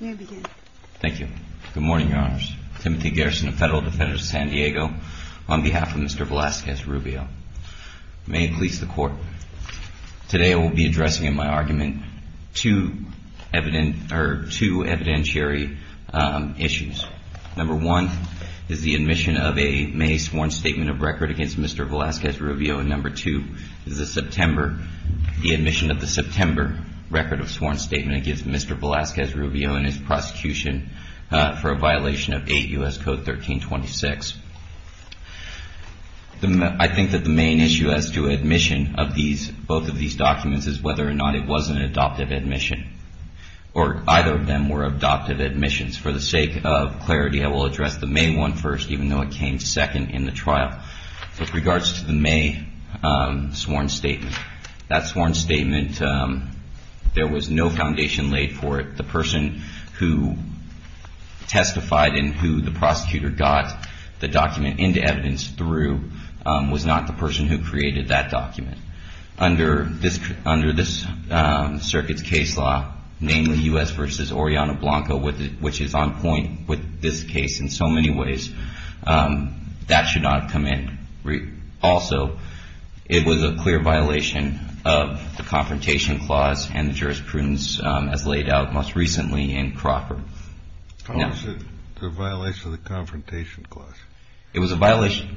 May I begin? Thank you. Good morning, Your Honors. Timothy Garrison, a Federal Defender of San Diego, on behalf of Mr. Velasquez-Rubio. May it please the Court, today I will be addressing in my argument two evidentiary issues. Number one is the admission of a May sworn statement of record against Mr. Velasquez-Rubio, and number two is the admission of the September record of sworn statement against Mr. Velasquez-Rubio and his prosecution for a violation of 8 U.S. Code 1326. I think that the main issue as to admission of both of these documents is whether or not it was an adoptive admission, or either of them were adoptive admissions. For the sake of clarity, I will address the May one first, even though it came second in the trial. With regards to the May sworn statement, that sworn statement, there was no foundation laid for it. The person who testified and who the prosecutor got the document into evidence through was not the person who created that document. Under this circuit's case law, namely U.S. v. Oriana Blanco, which is on point with this case in so many ways, that should not have come in. Also, it was a clear violation of the Confrontation Clause and the jurisprudence as laid out most recently in Crawford. It was a violation of the Confrontation Clause? It was a violation.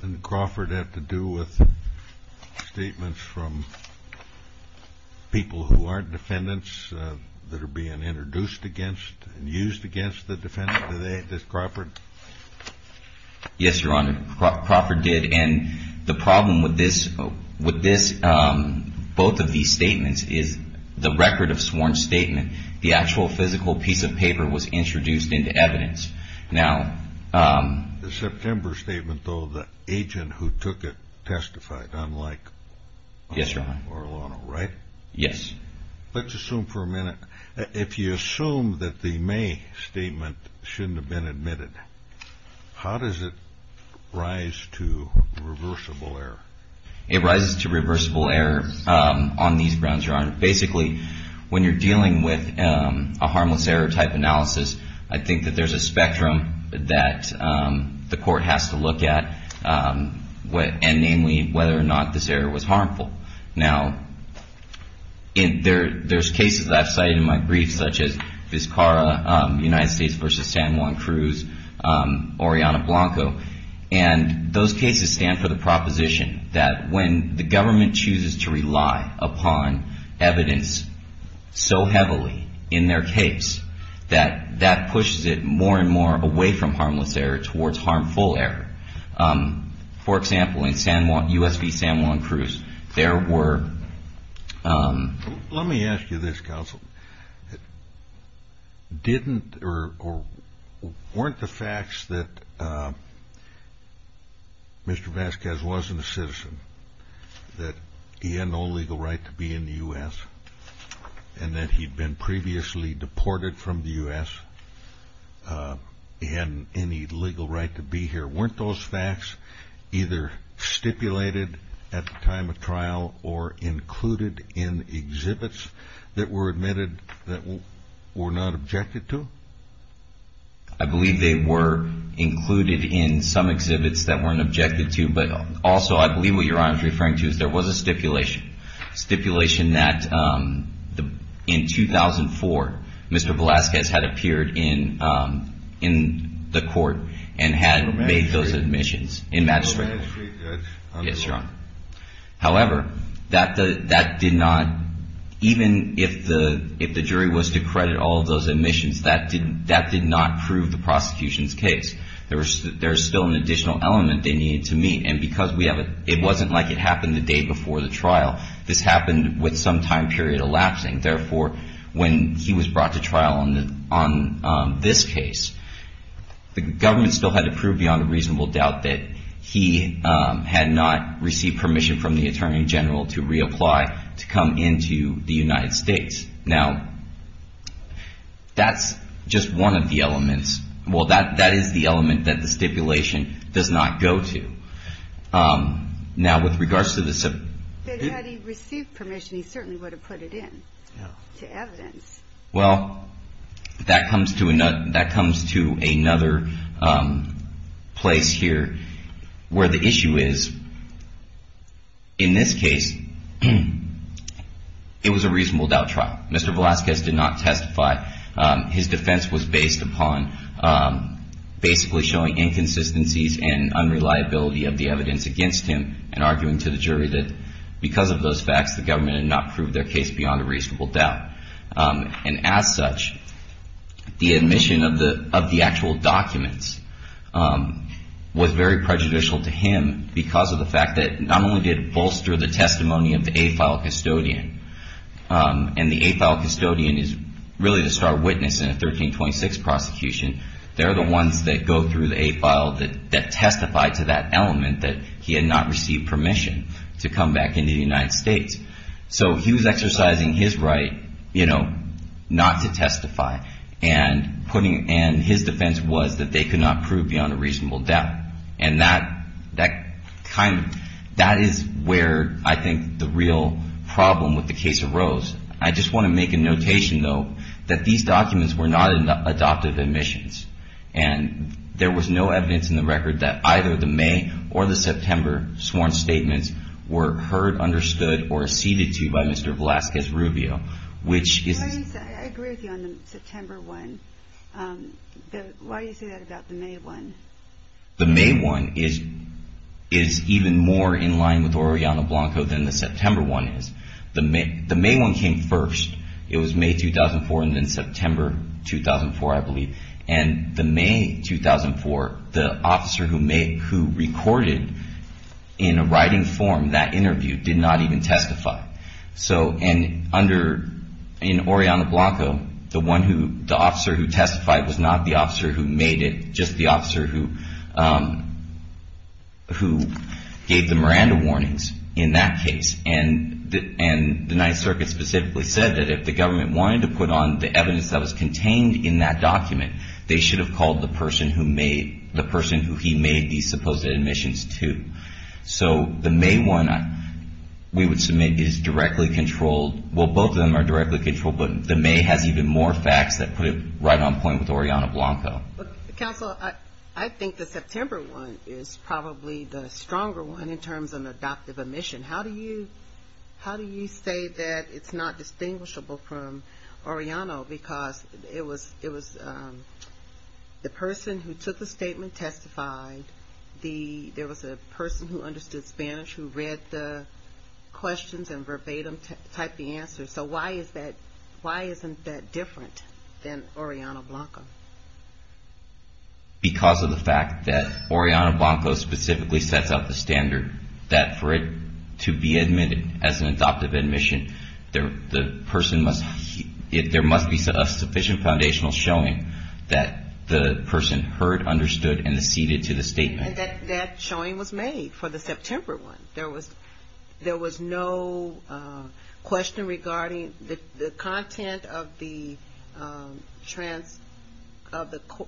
Did Crawford have to do with statements from people who aren't defendants that are being introduced against and used against the defendant? Did Crawford? Yes, Your Honor. Crawford did. And the problem with both of these statements is the record of sworn statement. The actual physical piece of paper was introduced into evidence. The September statement, though, the agent who took it testified, unlike Orlano, right? Yes, Your Honor. Let's assume for a minute. If you assume that the May statement shouldn't have been admitted, how does it rise to reversible error? It rises to reversible error on these grounds, Your Honor. Basically, when you're dealing with a harmless error type analysis, I think that there's a spectrum that the court has to look at, and namely whether or not this error was harmful. Now, there's cases I've cited in my briefs, such as Vizcarra, United States v. San Juan Cruz, Oriana Blanco. And those cases stand for the proposition that when the government chooses to rely upon evidence so heavily in their case, that that pushes it more and more away from harmless error towards harmful error. For example, in San Juan, U.S. v. San Juan Cruz, there were. Let me ask you this, counsel. Didn't or weren't the facts that Mr. Vasquez wasn't a citizen, that he had no legal right to be in the U.S., and that he'd been previously deported from the U.S., he hadn't any legal right to be here. Weren't those facts either stipulated at the time of trial or included in exhibits that were admitted that were not objected to? I believe they were included in some exhibits that weren't objected to, but also I believe what Your Honor is referring to is there was a stipulation. Stipulation that in 2004, Mr. Vasquez had appeared in the court and had made those admissions in magistrate court. Yes, Your Honor. However, that did not, even if the jury was to credit all of those admissions, that did not prove the prosecution's case. There was still an additional element they needed to meet, and because it wasn't like it happened the day before the trial. This happened with some time period elapsing. Therefore, when he was brought to trial on this case, the government still had to prove beyond a reasonable doubt that he had not received permission from the Attorney General to reapply to come into the United States. Now, that's just one of the elements. Well, that is the element that the stipulation does not go to. Now, with regards to the... Had he received permission, he certainly would have put it in to evidence. Well, that comes to another place here where the issue is, in this case, it was a reasonable doubt trial. Mr. Vasquez did not testify. His defense was based upon basically showing inconsistencies and unreliability of the evidence against him and arguing to the jury that because of those facts, the government had not proved their case beyond a reasonable doubt. And as such, the admission of the actual documents was very prejudicial to him because of the fact that not only did it bolster the testimony of the A-file custodian, and the A-file custodian is really the star witness in a 1326 prosecution. They're the ones that go through the A-file that testified to that element that he had not received permission to come back into the United States. So he was exercising his right not to testify. And his defense was that they could not prove beyond a reasonable doubt. And that is where I think the real problem with the case arose. I just want to make a notation, though, that these documents were not adopted admissions. And there was no evidence in the record that either the May or the September sworn statements were heard, understood, or acceded to by Mr. Velazquez-Rubio. I agree with you on the September one. Why do you say that about the May one? The May one is even more in line with Oriana Blanco than the September one is. The May one came first. It was May 2004 and then September 2004, I believe. And the May 2004, the officer who recorded in a writing form that interview did not even testify. And in Oriana Blanco, the officer who testified was not the officer who made it, just the officer who gave the Miranda warnings in that case. And the Ninth Circuit specifically said that if the government wanted to put on the evidence that was contained in that document, they should have called the person who he made these supposed admissions to. So the May one, we would submit, is directly controlled. Well, both of them are directly controlled, but the May has even more facts that put it right on point with Oriana Blanco. Counsel, I think the September one is probably the stronger one in terms of an adoptive admission. How do you say that it's not distinguishable from Oriana? Because it was the person who took the statement testified. There was a person who understood Spanish who read the questions and verbatim typed the answers. So why isn't that different than Oriana Blanco? Because of the fact that Oriana Blanco specifically sets out the standard that for it to be admitted as an adoptive admission, there must be a sufficient foundational showing that the person heard, understood, and acceded to the statement. And that showing was made for the September one. There was no question regarding the content of the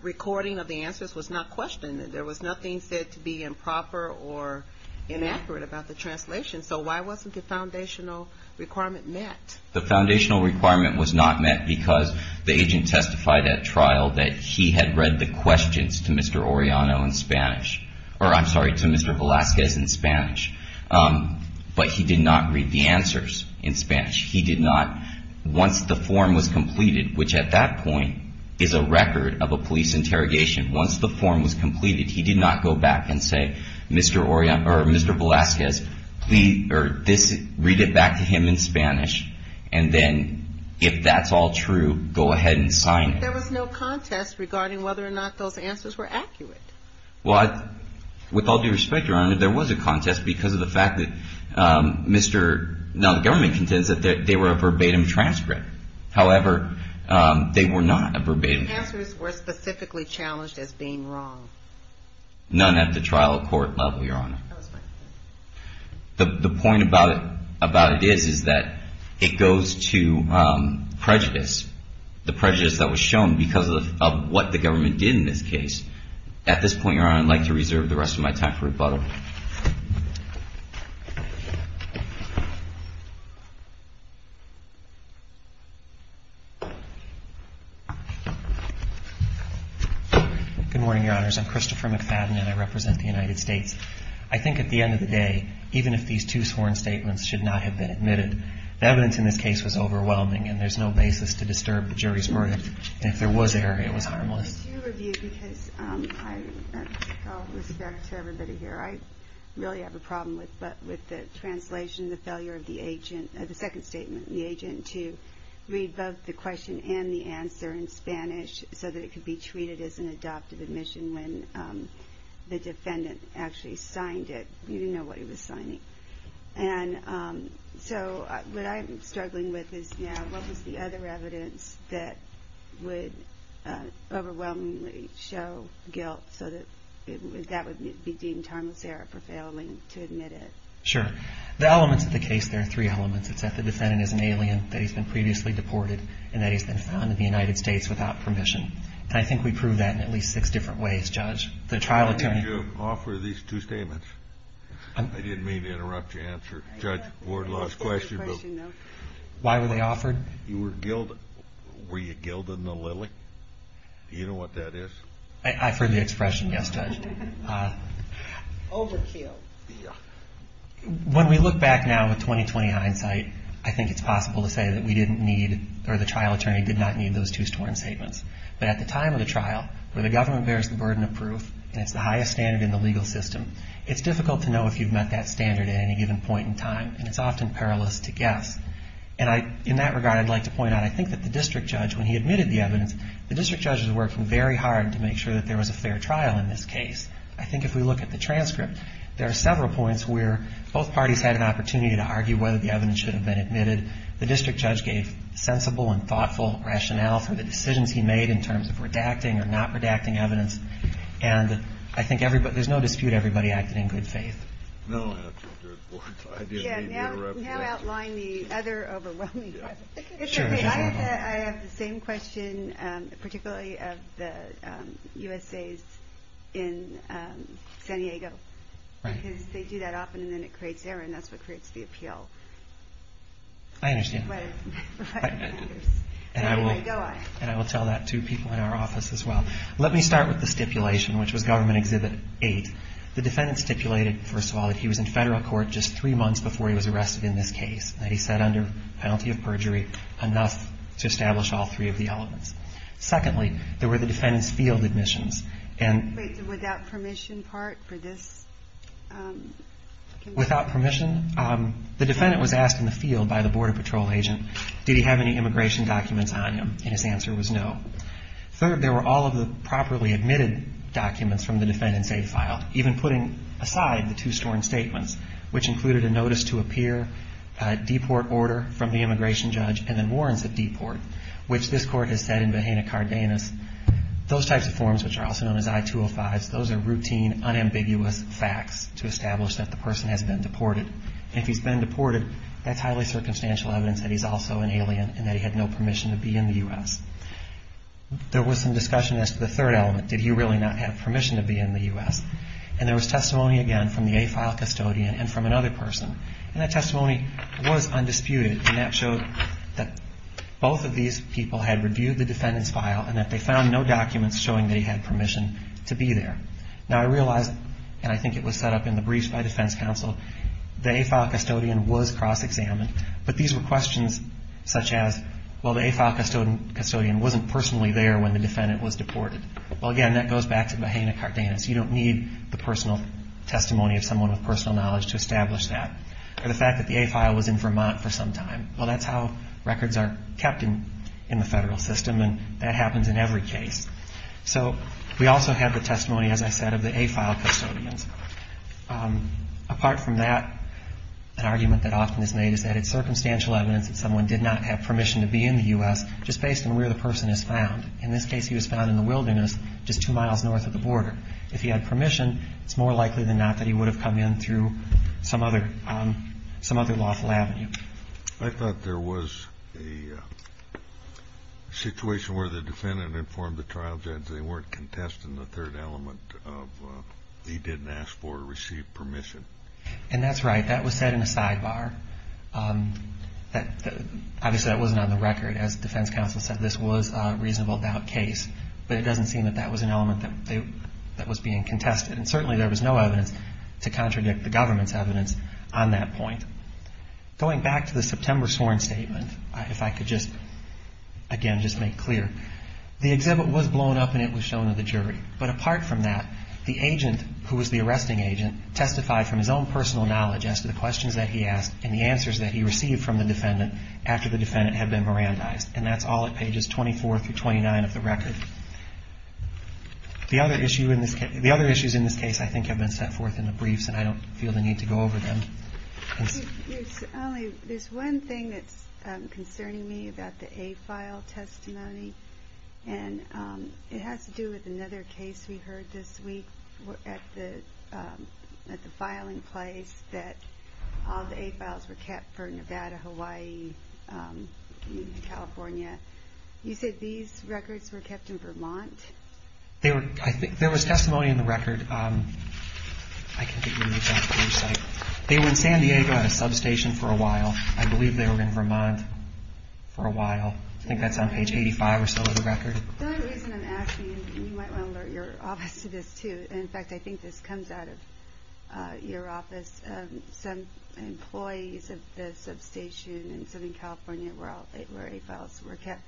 recording of the answers was not questioned. There was nothing said to be improper or inaccurate about the translation. So why wasn't the foundational requirement met? The foundational requirement was not met because the agent testified at trial that he had read the questions to Mr. Velazquez in Spanish, but he did not read the answers in Spanish. He did not, once the form was completed, which at that point is a record of a police interrogation. Once the form was completed, he did not go back and say, Mr. Velazquez, read it back to him in Spanish. And then if that's all true, go ahead and sign it. There was no contest regarding whether or not those answers were accurate. Well, with all due respect, Your Honor, there was a contest because of the fact that Mr. Now, the government contends that they were a verbatim transcript. However, they were not a verbatim transcript. The answers were specifically challenged as being wrong. None at the trial court level, Your Honor. The point about it is that it goes to prejudice, the prejudice that was shown because of what the government did in this case. At this point, Your Honor, I'd like to reserve the rest of my time for rebuttal. Good morning, Your Honors. I'm Christopher McFadden, and I represent the United States. I think at the end of the day, even if these two sworn statements should not have been admitted, the evidence in this case was overwhelming, and there's no basis to disturb the jury's verdict. And if there was error, it was harmless. I do review because, with all respect to everybody here, I really have a problem with the translation, the failure of the agent, the second statement, the agent, to read both the question and the answer in Spanish so that it could be treated as an adoptive admission when the defendant actually signed it. You didn't know what he was signing. And so what I'm struggling with is now what was the other evidence that would overwhelmingly show guilt so that that would be deemed harmless error for failing to admit it? Sure. The elements of the case, there are three elements. It's that the defendant is an alien, that he's been previously deported, and that he's been found in the United States without permission. And I think we proved that in at least six different ways, Judge. The trial attorney. Why did you offer these two statements? I didn't mean to interrupt your answer. Judge, the board lost question. Why were they offered? You were guilty. Were you guilty in the lily? Do you know what that is? I've heard the expression, yes, Judge. Overkill. When we look back now with 20-20 hindsight, I think it's possible to say that we didn't need or the trial attorney did not need those two sworn statements. But at the time of the trial where the government bears the burden of proof and it's the highest standard in the legal system, it's difficult to know if you've met that standard at any given point in time. And it's often perilous to guess. And in that regard, I'd like to point out, I think that the district judge, when he admitted the evidence, the district judge was working very hard to make sure that there was a fair trial in this case. I think if we look at the transcript, there are several points where both parties had an opportunity to argue whether the evidence should have been admitted. The district judge gave sensible and thoughtful rationale for the decisions he made in terms of redacting or not redacting evidence. And I think there's no dispute everybody acted in good faith. No. Now outline the other overwhelming points. I have the same question, particularly of the USAs in San Diego. Because they do that often and then it creates error and that's what creates the appeal. I understand. And I will tell that to people in our office as well. Let me start with the stipulation, which was Government Exhibit 8. The defendant stipulated, first of all, that he was in federal court just three months before he was arrested in this case. That he sat under penalty of perjury enough to establish all three of the elements. Secondly, there were the defendant's field admissions. Wait, the without permission part for this? Without permission? The defendant was asked in the field by the Border Patrol agent, did he have any immigration documents on him? And his answer was no. Third, there were all of the properly admitted documents from the defendant's safe file, even putting aside the two storm statements, which included a notice to appear, a deport order from the immigration judge, and then warrants of deport, which this court has said in Behena Cardenas. Those types of forms, which are also known as I-205s, those are routine, unambiguous facts to establish that the person has been deported. And if he's been deported, that's highly circumstantial evidence that he's also an alien and that he had no permission to be in the U.S. There was some discussion as to the third element. Did he really not have permission to be in the U.S.? And there was testimony, again, from the AFILE custodian and from another person. And that testimony was undisputed. And that showed that both of these people had reviewed the defendant's file and that they found no documents showing that he had permission to be there. Now, I realize, and I think it was set up in the briefs by defense counsel, the AFILE custodian was cross-examined, but these were questions such as, well, the AFILE custodian wasn't personally there when the defendant was deported. Well, again, that goes back to Behena Cardenas. You don't need the personal testimony of someone with personal knowledge to establish that. Or the fact that the AFILE was in Vermont for some time. Well, that's how records are kept in the federal system, and that happens in every case. So we also have the testimony, as I said, of the AFILE custodians. Apart from that, an argument that often is made is that it's circumstantial evidence that someone did not have permission to be in the U.S. just based on where the person is found. In this case, he was found in the wilderness just two miles north of the border. If he had permission, it's more likely than not that he would have come in through some other lawful avenue. I thought there was a situation where the defendant informed the trial judge they weren't contesting the third element of he didn't ask for or receive permission. And that's right. That was said in a sidebar. Obviously, that wasn't on the record. As the defense counsel said, this was a reasonable doubt case. But it doesn't seem that that was an element that was being contested. And certainly there was no evidence to contradict the government's evidence on that point. Going back to the September sworn statement, if I could just, again, just make clear, the exhibit was blown up and it was shown to the jury. But apart from that, the agent, who was the arresting agent, testified from his own personal knowledge as to the questions that he asked and the answers that he received from the defendant after the defendant had been Mirandized. And that's all at pages 24 through 29 of the record. The other issues in this case, I think, have been set forth in the briefs, and I don't feel the need to go over them. There's one thing that's concerning me about the A file testimony, and it has to do with another case we heard this week at the filing place that all the A files were kept for Nevada, Hawaii, California. You said these records were kept in Vermont? There was testimony in the record. They were in San Diego at a substation for a while. I believe they were in Vermont for a while. I think that's on page 85 or so of the record. The only reason I'm asking, and you might want to alert your office to this, too, and, in fact, I think this comes out of your office, some employees of the substation in Southern California where A files were kept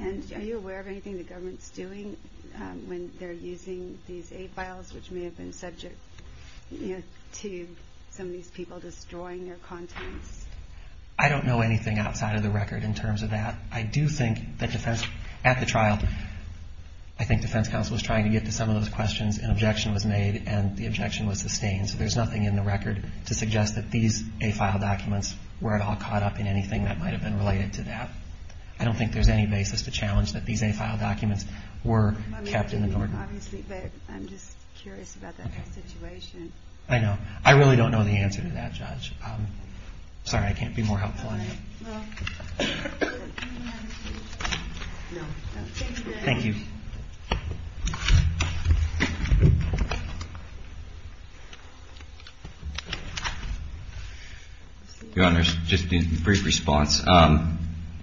And are you aware of anything the government's doing when they're using these A files, which may have been subject to some of these people destroying their contents? I don't know anything outside of the record in terms of that. I do think that at the trial, I think defense counsel was trying to get to some of those questions, an objection was made, and the objection was sustained. So there's nothing in the record to suggest that these A file documents were at all caught up in anything that might have been related to that. I don't think there's any basis to challenge that these A file documents were kept in the Norden. I mean, obviously, but I'm just curious about that whole situation. I know. I really don't know the answer to that, Judge. Sorry, I can't be more helpful on that. All right. Well, we have a few. No. Thank you. Thank you. Your Honor, just a brief response.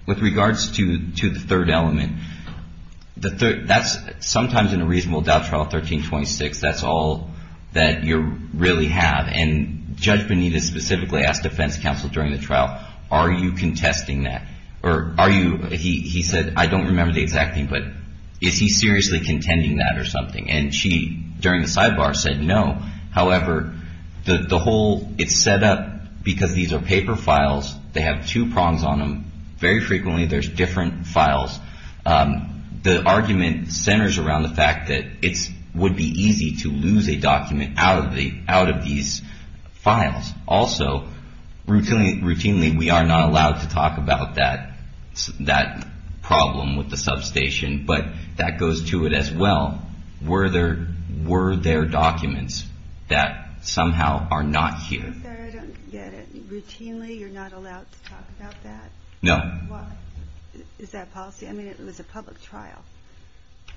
With regards to the third element, that's sometimes in a reasonable doubt trial 1326, that's all that you really have. And Judge Bonita specifically asked defense counsel during the trial, are you contesting that? He said, I don't remember the exact thing, but is he seriously contending that or something? And she, during the sidebar, said no. However, the whole, it's set up because these are paper files. They have two prongs on them. Very frequently there's different files. The argument centers around the fact that it would be easy to lose a document out of these files. Also, routinely we are not allowed to talk about that problem with the substation, but that goes to it as well. Were there documents that somehow are not here? I'm sorry, I don't get it. Routinely you're not allowed to talk about that? No. Why? Is that policy? I mean, it was a public trial.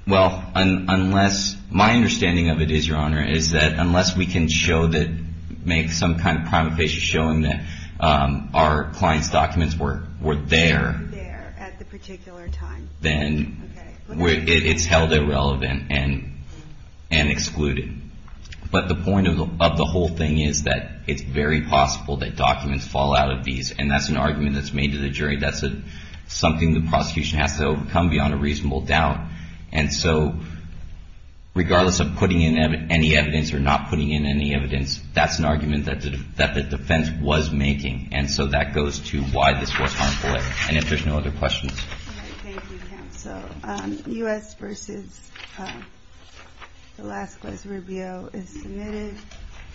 Well, unless, my understanding of it is, Your Honor, is that unless we can show that, make some kind of prima facie showing that our client's documents were there. There at the particular time. Then it's held irrelevant and excluded. But the point of the whole thing is that it's very possible that documents fall out of these, That's something the prosecution has to overcome beyond a reasonable doubt. And so regardless of putting in any evidence or not putting in any evidence, that's an argument that the defense was making. And so that goes to why this was harmful and if there's no other questions. Thank you, counsel. U.S. v. Alaska's Rubio is submitted.